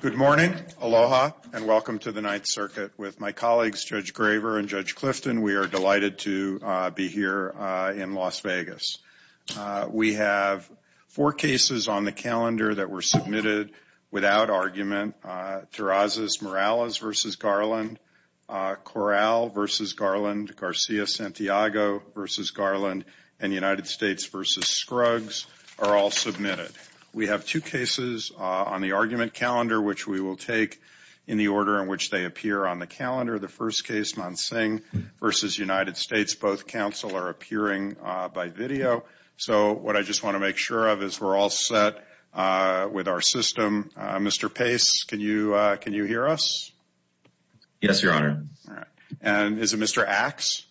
Good morning, aloha, and welcome to the Ninth Circuit with my colleagues, Judge Graver and Judge Clifton. We are delighted to be here in Las Vegas. We have four cases on the calendar that were submitted without argument, Terrazas-Morales v. Garland, Corral v. Garland, Garcia-Santiago v. Garland, and United States v. Scruggs. Both are all submitted. We have two cases on the argument calendar, which we will take in the order in which they appear on the calendar. The first case, Mansingh v. United States. Both counsel are appearing by video. So what I just want to make sure of is we're all set with our system. Mr. Pace, can you hear us? Yes, Your Honor. And is it Mr. Axe?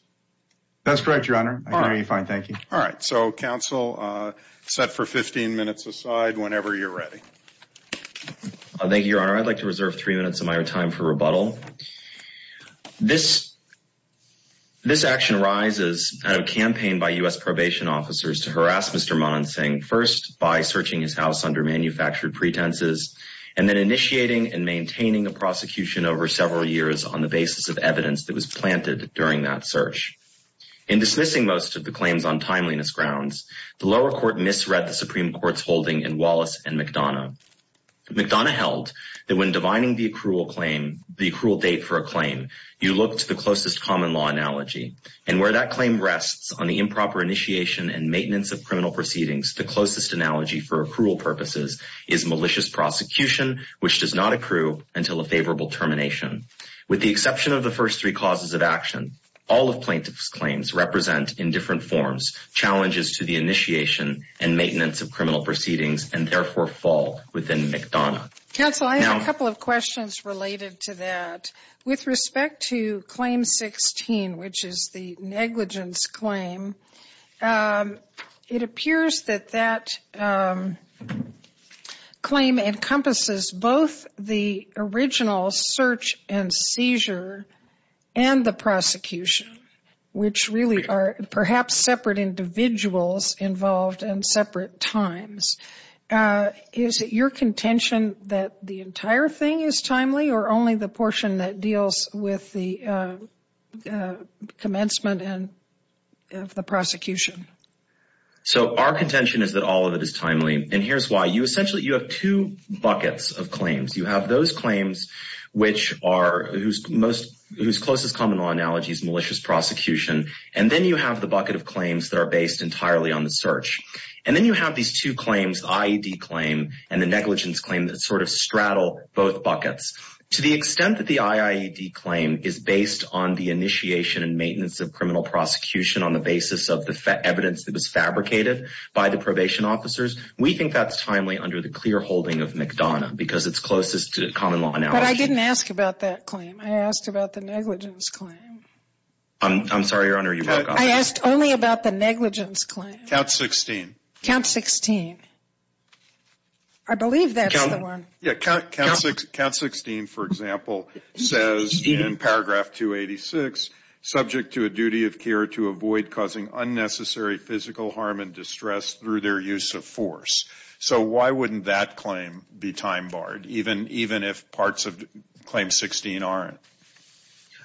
That's correct, Your Honor. I can hear you fine, thank you. All right. So counsel, set for 15 minutes aside whenever you're ready. Thank you, Your Honor. I'd like to reserve three minutes of my time for rebuttal. This action arises out of a campaign by U.S. probation officers to harass Mr. Mansingh, first by searching his house under manufactured pretenses, and then initiating and maintaining a prosecution over several years on the basis of evidence that was planted during that search. In dismissing most of the claims on timeliness grounds, the lower court misread the Supreme Court's holding in Wallace and McDonough. McDonough held that when divining the accrual date for a claim, you look to the closest common law analogy, and where that claim rests on the improper initiation and maintenance of criminal proceedings, the closest analogy for accrual purposes is malicious prosecution, which does not accrue until a favorable termination. With the exception of the first three clauses of action, all of plaintiff's claims represent in different forms challenges to the initiation and maintenance of criminal proceedings and therefore fall within McDonough. Counsel, I have a couple of questions related to that. With respect to Claim 16, which is the negligence claim, it appears that that claim encompasses both the original search and seizure and the prosecution, which really are perhaps separate individuals involved in separate times. Is it your contention that the entire thing is timely, or only the portion that deals with the commencement of the prosecution? So our contention is that all of it is timely. And here's why. Essentially, you have two buckets of claims. You have those claims whose closest common law analogy is malicious prosecution, and then you have the bucket of claims that are based entirely on the search. And then you have these two claims, the IED claim and the negligence claim, that sort of straddle both buckets. To the extent that the IED claim is based on the initiation and maintenance of criminal prosecution on the basis of the evidence that was fabricated by the probation officers, we think that's timely under the clear holding of McDonough, because it's closest to common law analogy. But I didn't ask about that claim. I asked about the negligence claim. I'm sorry, Your Honor, you broke up. I asked only about the negligence claim. Count 16. Count 16. I believe that's the one. Count 16, for example, says in paragraph 286, subject to a duty of care to avoid causing unnecessary physical harm and distress through their use of force. So why wouldn't that claim be time barred, even if parts of claim 16 aren't?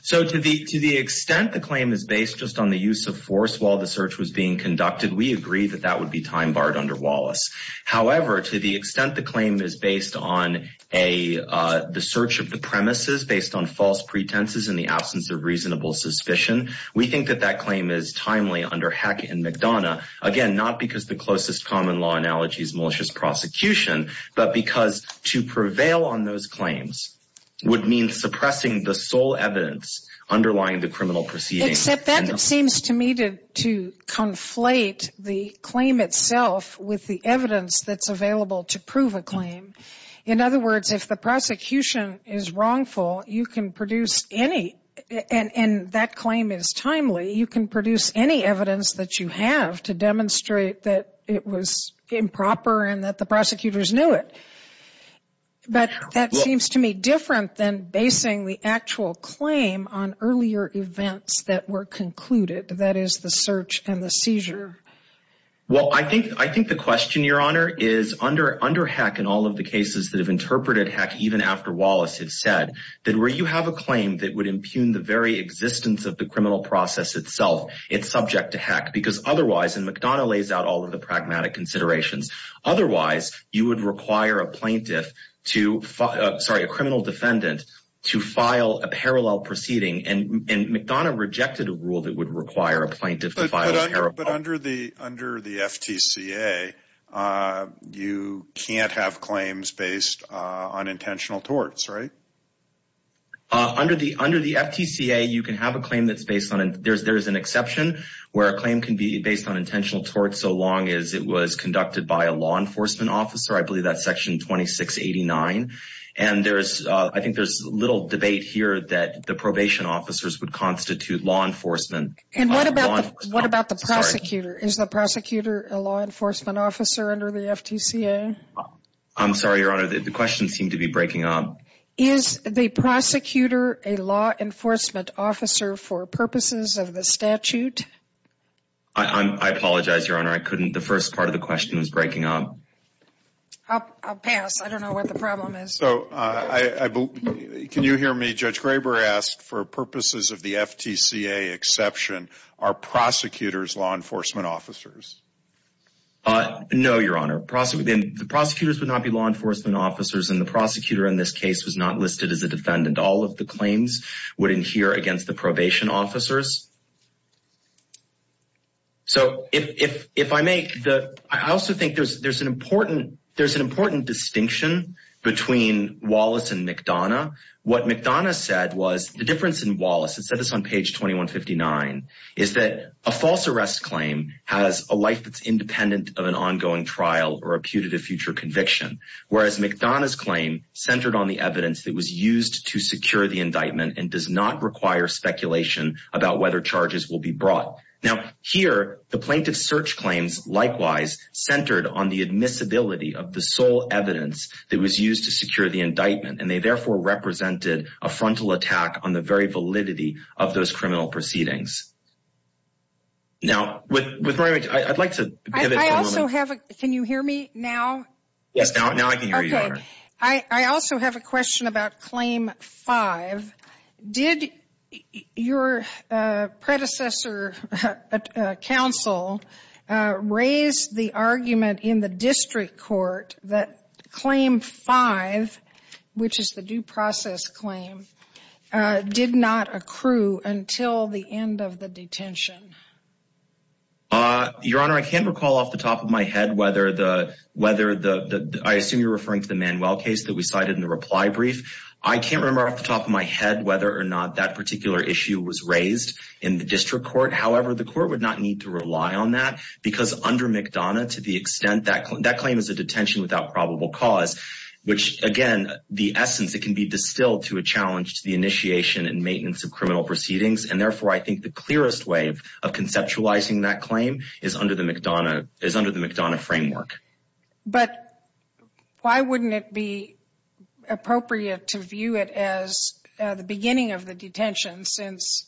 So to the extent the claim is based just on the use of force while the search was being conducted, we agree that that would be time barred under Wallace. However, to the extent the claim is based on the search of the premises based on false or hack in McDonough, again, not because the closest common law analogy is malicious prosecution, but because to prevail on those claims would mean suppressing the sole evidence underlying the criminal proceedings. Except that seems to me to conflate the claim itself with the evidence that's available to prove a claim. In other words, if the prosecution is wrongful, you can produce any, and that claim is timely, you can produce any evidence that you have to demonstrate that it was improper and that the prosecutors knew it. But that seems to me different than basing the actual claim on earlier events that were concluded, that is, the search and the seizure. Well, I think the question, Your Honor, is under hack in all of the cases that have interpreted hack even after Wallace had said, that where you have a claim that would impugn the very trial process itself, it's subject to hack. Because otherwise, and McDonough lays out all of the pragmatic considerations, otherwise you would require a plaintiff to, sorry, a criminal defendant to file a parallel proceeding and McDonough rejected a rule that would require a plaintiff to file a parallel. But under the FTCA, you can't have claims based on intentional torts, right? Under the FTCA, you can have a claim that's based on, there's an exception where a claim can be based on intentional torts so long as it was conducted by a law enforcement officer. I believe that's section 2689. And there's, I think there's little debate here that the probation officers would constitute law enforcement. And what about the prosecutor? Is the prosecutor a law enforcement officer under the FTCA? I'm sorry, Your Honor. The questions seem to be breaking up. Is the prosecutor a law enforcement officer for purposes of the statute? I apologize, Your Honor. I couldn't, the first part of the question was breaking up. I'll pass. I don't know what the problem is. So I, can you hear me? Judge Graber asked for purposes of the FTCA exception, are prosecutors law enforcement officers? No, Your Honor. The prosecutors would not be law enforcement officers and the prosecutor in this case was not listed as a defendant. All of the claims would adhere against the probation officers. So if I may, I also think there's an important distinction between Wallace and McDonough. What McDonough said was, the difference in Wallace, it said this on page 2159, is that a false arrest claim has a life that's independent of an ongoing trial or a putative future conviction, whereas McDonough's claim centered on the evidence that was used to secure the indictment and does not require speculation about whether charges will be brought. Now here, the plaintiff's search claims likewise centered on the admissibility of the sole evidence that was used to secure the indictment and they therefore represented a frontal attack on the very validity of those criminal proceedings. Now with my, I'd like to pivot for a moment. Can you hear me now? Yes, now I can hear you, Your Honor. I also have a question about Claim 5. Did your predecessor counsel raise the argument in the district court that Claim 5, which is the due process claim, did not accrue until the end of the detention? Your Honor, I can't recall off the top of my head whether the, I assume you're referring to the Manuel case that we cited in the reply brief. I can't remember off the top of my head whether or not that particular issue was raised in the district court. However, the court would not need to rely on that because under McDonough, to the extent that, that claim is a detention without probable cause, which again, the essence, it can be distilled to a challenge to the initiation and maintenance of criminal proceedings and therefore I think the clearest way of conceptualizing that claim is under the McDonough, is under the McDonough framework. But why wouldn't it be appropriate to view it as the beginning of the detention since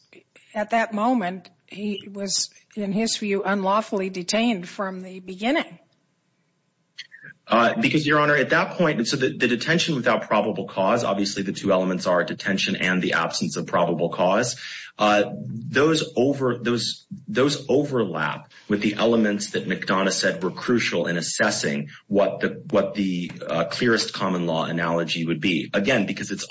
at that moment he was, in his view, unlawfully detained from the beginning? Because Your Honor, at that point, the detention without probable cause, obviously the two elements are detention and the absence of probable cause, those overlap with the elements that McDonough said were crucial in assessing what the clearest common law analogy would be. Again, because it's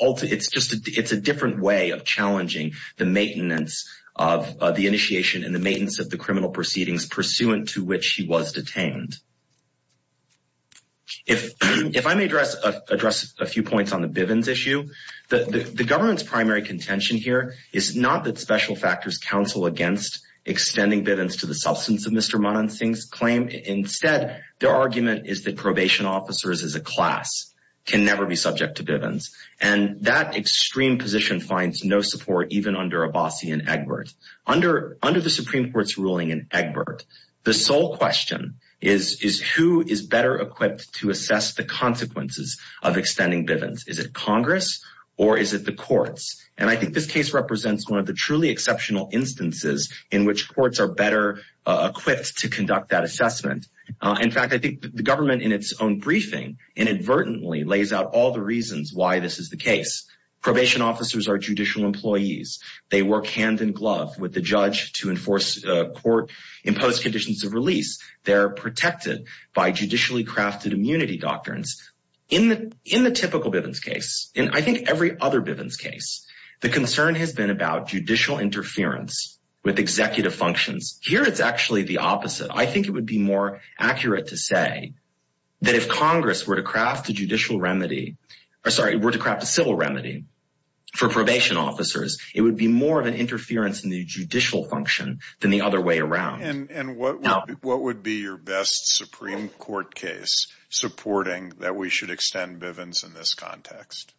a different way of challenging the maintenance of the initiation and the maintenance of the criminal proceedings pursuant to which he was detained. If I may address a few points on the Bivens issue, the government's primary contention here is not that special factors counsel against extending Bivens to the substance of Mr. Manansingh's claim, instead their argument is that probation officers as a class can never be subject to Bivens. And that extreme position finds no support even under Abbasi and Egbert. Under the Supreme Court's ruling in Egbert, the sole question is who is better equipped to assess the consequences of extending Bivens? Is it Congress or is it the courts? And I think this case represents one of the truly exceptional instances in which courts are better equipped to conduct that assessment. In fact, I think the government in its own briefing inadvertently lays out all the reasons why this is the case. Probation officers are judicial employees. They work hand in glove with the judge to enforce court imposed conditions of release. They're protected by judicially crafted immunity doctrines. In the typical Bivens case, and I think every other Bivens case, the concern has been about judicial interference with executive functions. Here it's actually the opposite. I think it would be more accurate to say that if Congress were to craft a judicial remedy, or sorry, were to craft a civil remedy for probation officers, it would be more of an interference in the judicial function than the other way around. And what would be your best Supreme Court case supporting that we should extend Bivens in this context?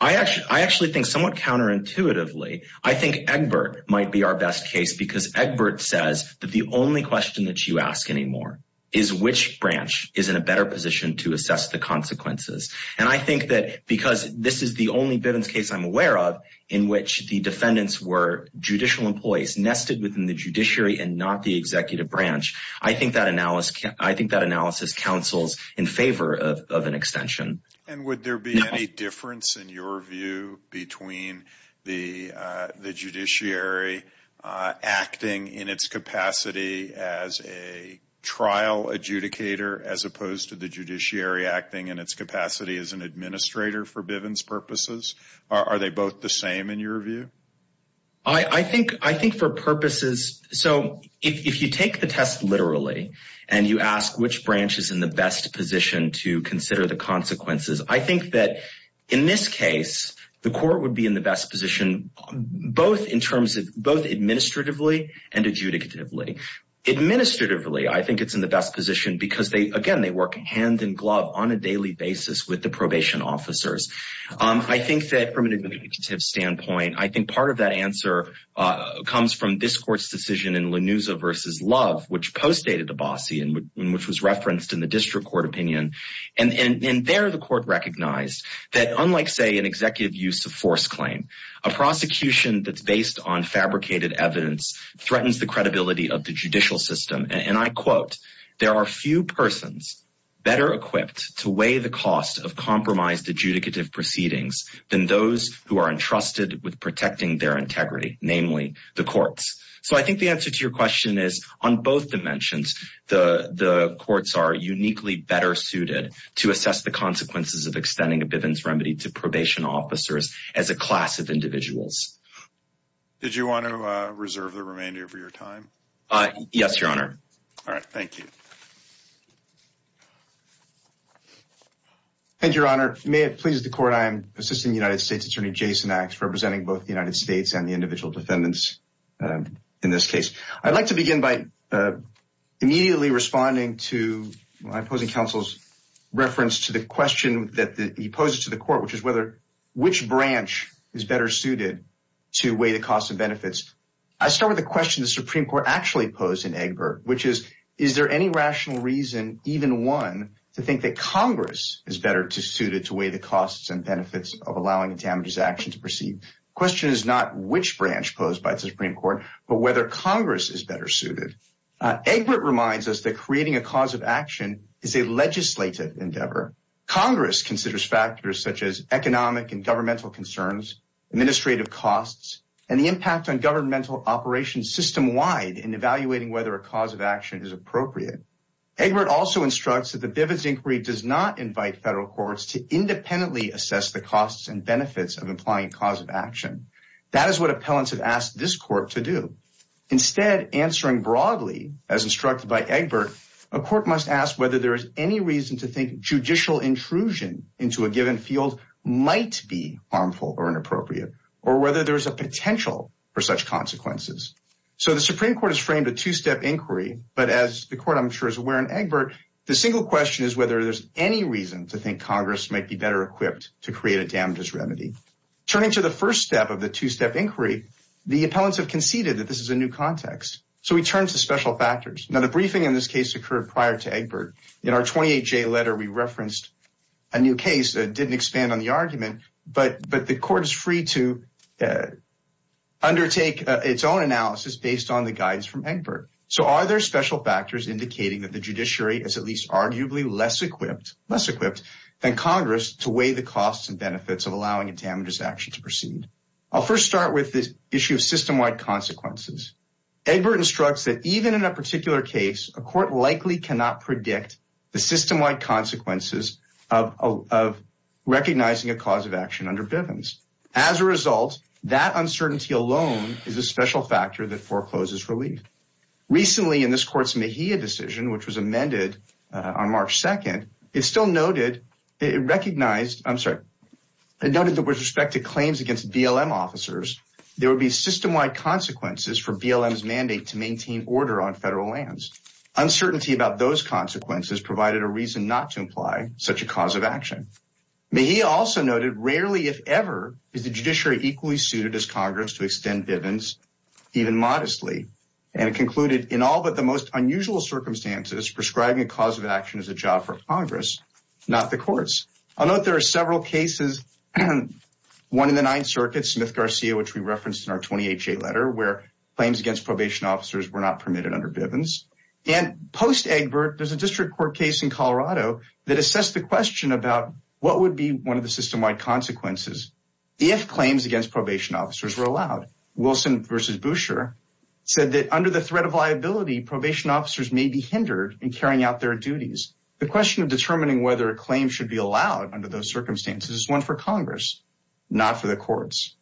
I actually think somewhat counterintuitively, I think Egbert might be our best case because Egbert says that the only question that you ask anymore is which branch is in a better position to assess the consequences. And I think that because this is the only Bivens case I'm aware of in which the defendants were judicial employees nested within the judiciary and not the executive branch, I think that analysis counsels in favor of an extension. And would there be any difference in your view between the judiciary acting in its capacity as a trial adjudicator as opposed to the judiciary acting in its capacity as an administrator for Bivens purposes? Are they both the same in your view? I think for purposes, so if you take the test literally and you ask which branch is in the best position to consider the consequences, I think that in this case, the court would be in the best position both in terms of both administratively and adjudicatively. Administratively, I think it's in the best position because they, again, they work hand in glove on a daily basis with the probation officers. I think that from an administrative standpoint, I think part of that answer comes from this court's decision in Lanuza v. Love, which postdated the bossy and which was referenced in the district court opinion, and there the court recognized that unlike, say, an executive use of force claim, a prosecution that's based on fabricated evidence threatens the credibility of the judicial system, and I quote, there are few persons better equipped to weigh the cost of compromised adjudicative proceedings than those who are entrusted with protecting their integrity, namely the courts. So I think the answer to your question is on both dimensions, the courts are uniquely better suited to assess the consequences of extending a Bivens remedy to probation officers as a class of individuals. Did you want to reserve the remainder for your time? Yes, Your Honor. All right. Thank you. And Your Honor, may it please the court, I am Assistant United States Attorney Jason Axe representing both the United States and the individual defendants in this case. I'd like to begin by immediately responding to my opposing counsel's reference to the question that he poses to the court, which is whether, which branch is better suited to weigh the costs and benefits. I start with a question the Supreme Court actually posed in Egbert, which is, is there any rational reason, even one, to think that Congress is better suited to weigh the costs and benefits of allowing a damages action to proceed? Question is not which branch posed by the Supreme Court, but whether Congress is better suited. Egbert reminds us that creating a cause of action is a legislative endeavor. Congress considers factors such as economic and governmental concerns, administrative costs, and the impact on governmental operations system-wide in evaluating whether a cause of action is appropriate. Egbert also instructs that the Bivens inquiry does not invite federal courts to independently assess the costs and benefits of implying a cause of action. That is what appellants have asked this court to do. Instead, answering broadly, as instructed by Egbert, a court must ask whether there is any reason to think judicial intrusion into a given field might be harmful or inappropriate, or whether there is a potential for such consequences. So the Supreme Court has framed a two-step inquiry, but as the court, I'm sure, is aware in Egbert, the single question is whether there's any reason to think Congress might be better equipped to create a damage-as-remedy. Turning to the first step of the two-step inquiry, the appellants have conceded that this is a new context, so we turn to special factors. Now, the briefing in this case occurred prior to Egbert. In our 28-J letter, we referenced a new case that didn't expand on the argument, but the court is free to undertake its own analysis based on the guidance from Egbert. So are there special factors indicating that the judiciary is at least arguably less equipped than Congress to weigh the costs and benefits of allowing a damage-as-action to proceed? I'll first start with this issue of system-wide consequences. Egbert instructs that even in a particular case, a court likely cannot predict the system-wide consequences of recognizing a cause of action under Bivens. As a result, that uncertainty alone is a special factor that forecloses relief. Recently, in this court's Mejia decision, which was amended on March 2nd, it still noted that with respect to claims against BLM officers, there would be system-wide consequences for BLM's mandate to maintain order on federal lands. Uncertainty about those consequences provided a reason not to imply such a cause of action. Mejia also noted, rarely, if ever, is the judiciary equally suited as Congress to extend and concluded, in all but the most unusual circumstances, prescribing a cause of action as a job for Congress, not the courts. I'll note there are several cases, one in the Ninth Circuit, Smith-Garcia, which we referenced in our 20HA letter, where claims against probation officers were not permitted under Bivens. And post-Egbert, there's a district court case in Colorado that assessed the question about what would be one of the system-wide consequences if claims against probation officers were allowed. Wilson v. Boucher said that under the threat of liability, probation officers may be hindered in carrying out their duties. The question of determining whether a claim should be allowed under those circumstances is one for Congress, not for the courts.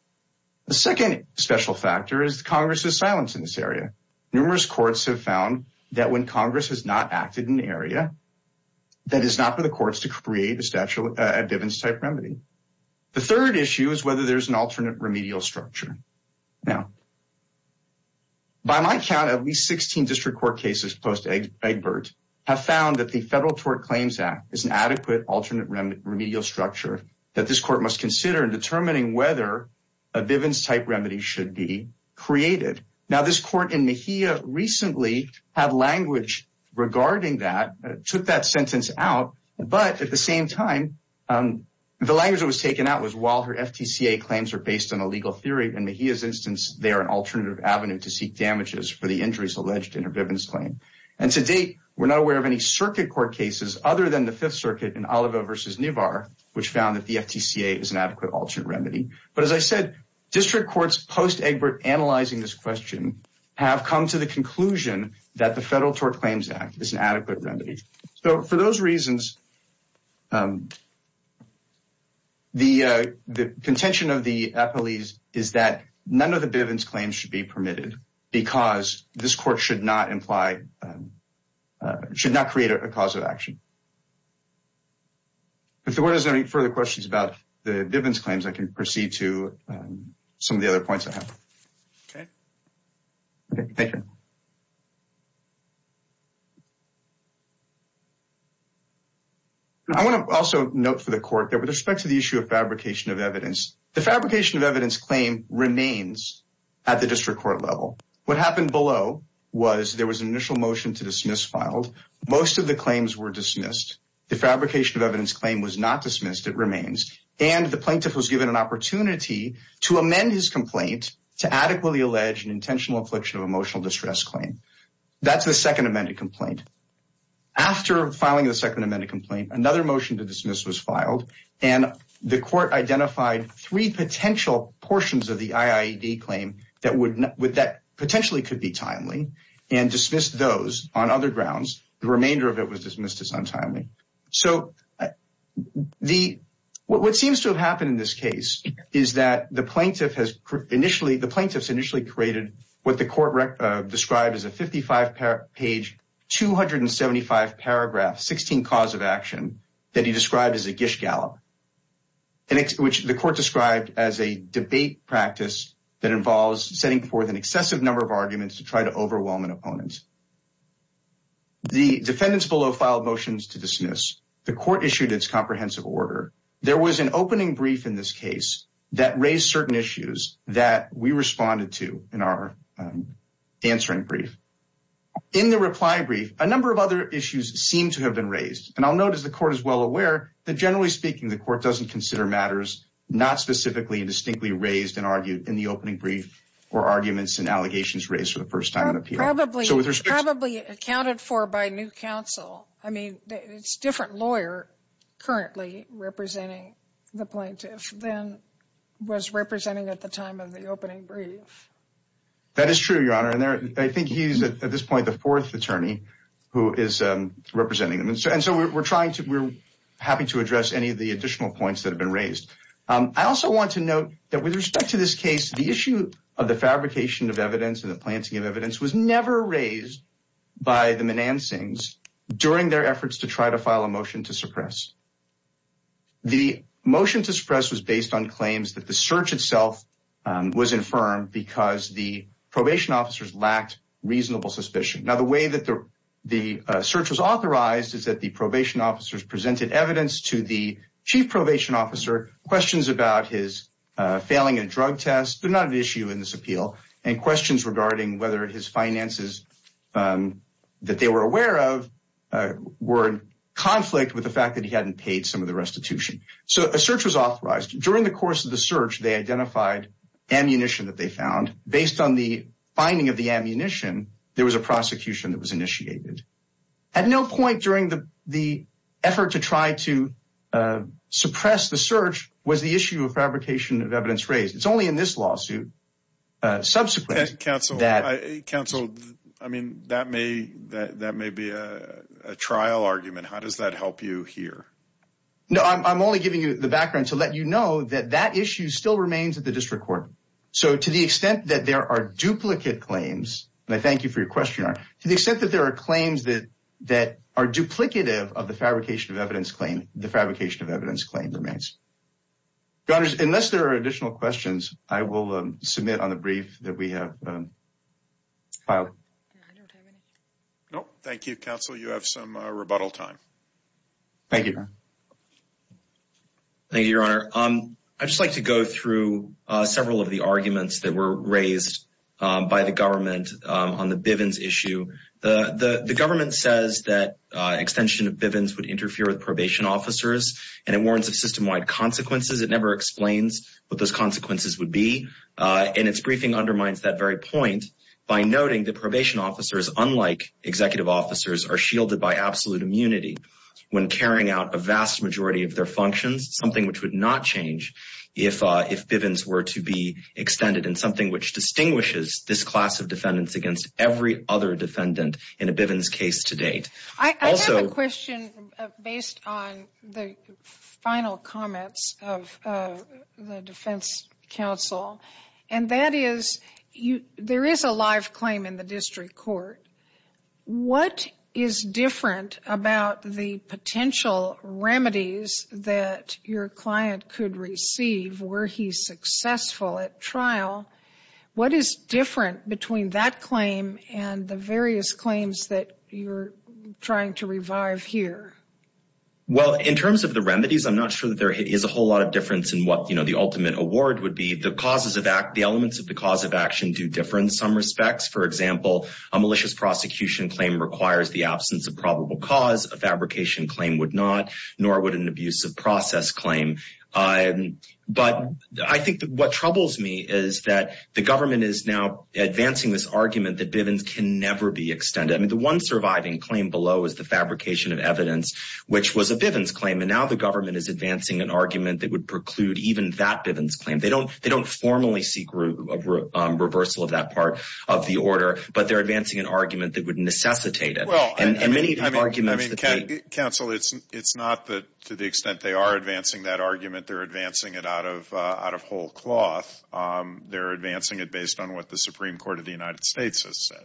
The second special factor is Congress's silence in this area. Numerous courts have found that when Congress has not acted in an area, that it's not for the courts to create a statute, a Bivens-type remedy. The third issue is whether there's an alternate remedial structure. Now, by my count, at least 16 district court cases post-Egbert have found that the Federal Tort Claims Act is an adequate alternate remedial structure that this court must consider in determining whether a Bivens-type remedy should be created. Now this court in Mejia recently had language regarding that, took that sentence out, but at the same time, the language that was taken out was while her FTCA claims are based on a legal theory, in Mejia's instance, they are an alternative avenue to seek damages for the injuries alleged in her Bivens claim. And to date, we're not aware of any circuit court cases other than the Fifth Circuit in Oliva v. Nivar, which found that the FTCA is an adequate alternate remedy. But as I said, district courts post-Egbert analyzing this question have come to the conclusion that the Federal Tort Claims Act is an adequate remedy. So for those reasons, the contention of the appellees is that none of the Bivens claims should be permitted because this court should not imply, should not create a cause of action. If there weren't any further questions about the Bivens claims, I can proceed to some of the other points I have. Okay. Thank you. I want to also note for the court that with respect to the issue of fabrication of evidence, the fabrication of evidence claim remains at the district court level. What happened below was there was an initial motion to dismiss filed. Most of the claims were dismissed. The fabrication of evidence claim was not dismissed. It remains. And the plaintiff was given an opportunity to amend his complaint to adequately allege an intentional affliction of emotional distress claim. That's the second amended complaint. After filing the second amended complaint, another motion to dismiss was filed, and the court identified three potential portions of the IIED claim that potentially could be timely and dismissed those on other grounds. The remainder of it was dismissed as untimely. So what seems to have happened in this case is that the plaintiff has initially, the plaintiffs has a 55-page, 275-paragraph, 16 cause of action that he described as a gish gallop, which the court described as a debate practice that involves setting forth an excessive number of arguments to try to overwhelm an opponent. The defendants below filed motions to dismiss. The court issued its comprehensive order. There was an opening brief in this case that raised certain issues that we responded to in our answering brief. In the reply brief, a number of other issues seem to have been raised. And I'll note, as the court is well aware, that generally speaking, the court doesn't consider matters not specifically and distinctly raised and argued in the opening brief or arguments and allegations raised for the first time in the appeal. Probably accounted for by new counsel. I mean, it's a different lawyer currently representing the plaintiff than was representing at the time of the opening brief. That is true, Your Honor. And I think he's, at this point, the fourth attorney who is representing him. And so we're happy to address any of the additional points that have been raised. I also want to note that, with respect to this case, the issue of the fabrication of evidence and the planting of evidence was never raised by the Menansings during their efforts to try to file a motion to suppress. The motion to suppress was based on claims that the search itself was infirm because the probation officers lacked reasonable suspicion. Now, the way that the search was authorized is that the probation officers presented evidence to the chief probation officer, questions about his failing in a drug test, but not an issue in this appeal, and questions regarding whether his finances that they were aware of were in conflict with the fact that he hadn't paid some of the restitution. So a search was authorized. During the course of the search, they identified ammunition that they found. Based on the finding of the ammunition, there was a prosecution that was initiated. At no point during the effort to try to suppress the search was the issue of fabrication of evidence raised. It's only in this lawsuit, subsequently, that— A trial argument. How does that help you here? No, I'm only giving you the background to let you know that that issue still remains at the district court. So to the extent that there are duplicate claims—and I thank you for your question, Your Honor—to the extent that there are claims that are duplicative of the fabrication of evidence claim, the fabrication of evidence claim remains. Your Honors, unless there are additional questions, I will submit on the brief that we have filed. I don't have any. No, thank you, Counsel. You have some rebuttal time. Thank you, Your Honor. Thank you, Your Honor. I'd just like to go through several of the arguments that were raised by the government on the Bivens issue. The government says that extension of Bivens would interfere with probation officers and it warrants of system-wide consequences. It never explains what those consequences would be, and its briefing undermines that very point by noting that probation officers, unlike executive officers, are shielded by absolute immunity when carrying out a vast majority of their functions, something which would not change if Bivens were to be extended and something which distinguishes this class of defendants against every other defendant in a Bivens case to date. I have a question based on the final comments of the defense counsel, and that is, there is a live claim in the district court. What is different about the potential remedies that your client could receive were he successful at trial? What is different between that claim and the various claims that you're trying to revive here? Well, in terms of the remedies, I'm not sure that there is a whole lot of difference in what the ultimate award would be. The elements of the cause of action do differ in some respects. For example, a malicious prosecution claim requires the absence of probable cause. A fabrication claim would not, nor would an abuse of process claim. But I think what troubles me is that the government is now advancing this argument that Bivens can never be extended. The one surviving claim below is the fabrication of evidence, which was a Bivens claim, and now the government is advancing an argument that would preclude even that Bivens claim. They don't formally seek reversal of that part of the order, but they're advancing an argument that would necessitate it. Well, I mean, counsel, it's not that to the extent they are advancing that argument, they're advancing it out of whole cloth. They're advancing it based on what the Supreme Court of the United States has said.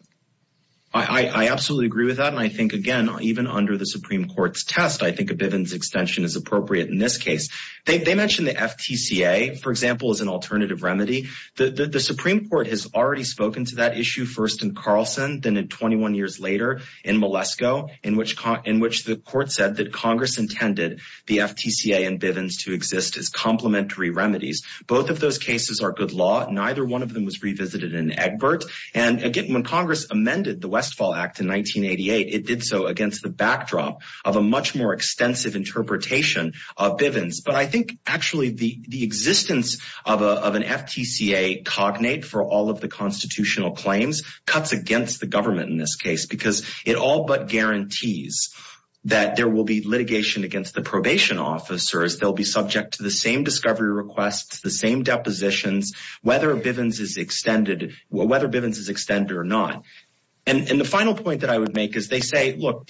I absolutely agree with that, and I think, again, even under the Supreme Court's test, I think a Bivens extension is appropriate in this case. They mentioned the FTCA, for example, as an alternative remedy. The Supreme Court has already spoken to that issue, first in Carlson, then 21 years later in Malesko, in which the court said that Congress intended the FTCA and Bivens to exist as complementary remedies. Both of those cases are good law. Neither one of them was revisited in Egbert. And again, when Congress amended the Westfall Act in 1988, it did so against the backdrop of a much more extensive interpretation of Bivens. But I think, actually, the existence of an FTCA cognate for all of the constitutional claims cuts against the government in this case, because it all but guarantees that there will be litigation against the probation officers. They'll be subject to the same discovery requests, the same depositions, whether Bivens is extended or not. And the final point that I would make is they say, look,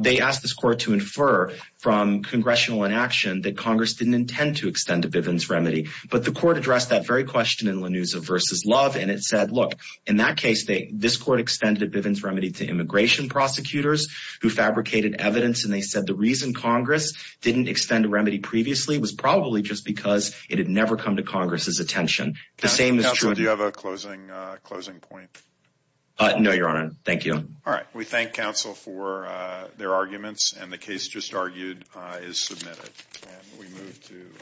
they asked this court to infer from congressional inaction that Congress didn't intend to extend a Bivens remedy. But the court addressed that very question in Lanuza v. Love, and it said, look, in that case, this court extended a Bivens remedy to immigration prosecutors who fabricated evidence. And they said the reason Congress didn't extend a remedy previously was probably just because it had never come to Congress's attention. The same is true. Counsel, do you have a closing point? No, Your Honor. Thank you. All right. We thank counsel for their arguments. And the case just argued is submitted. And we move to.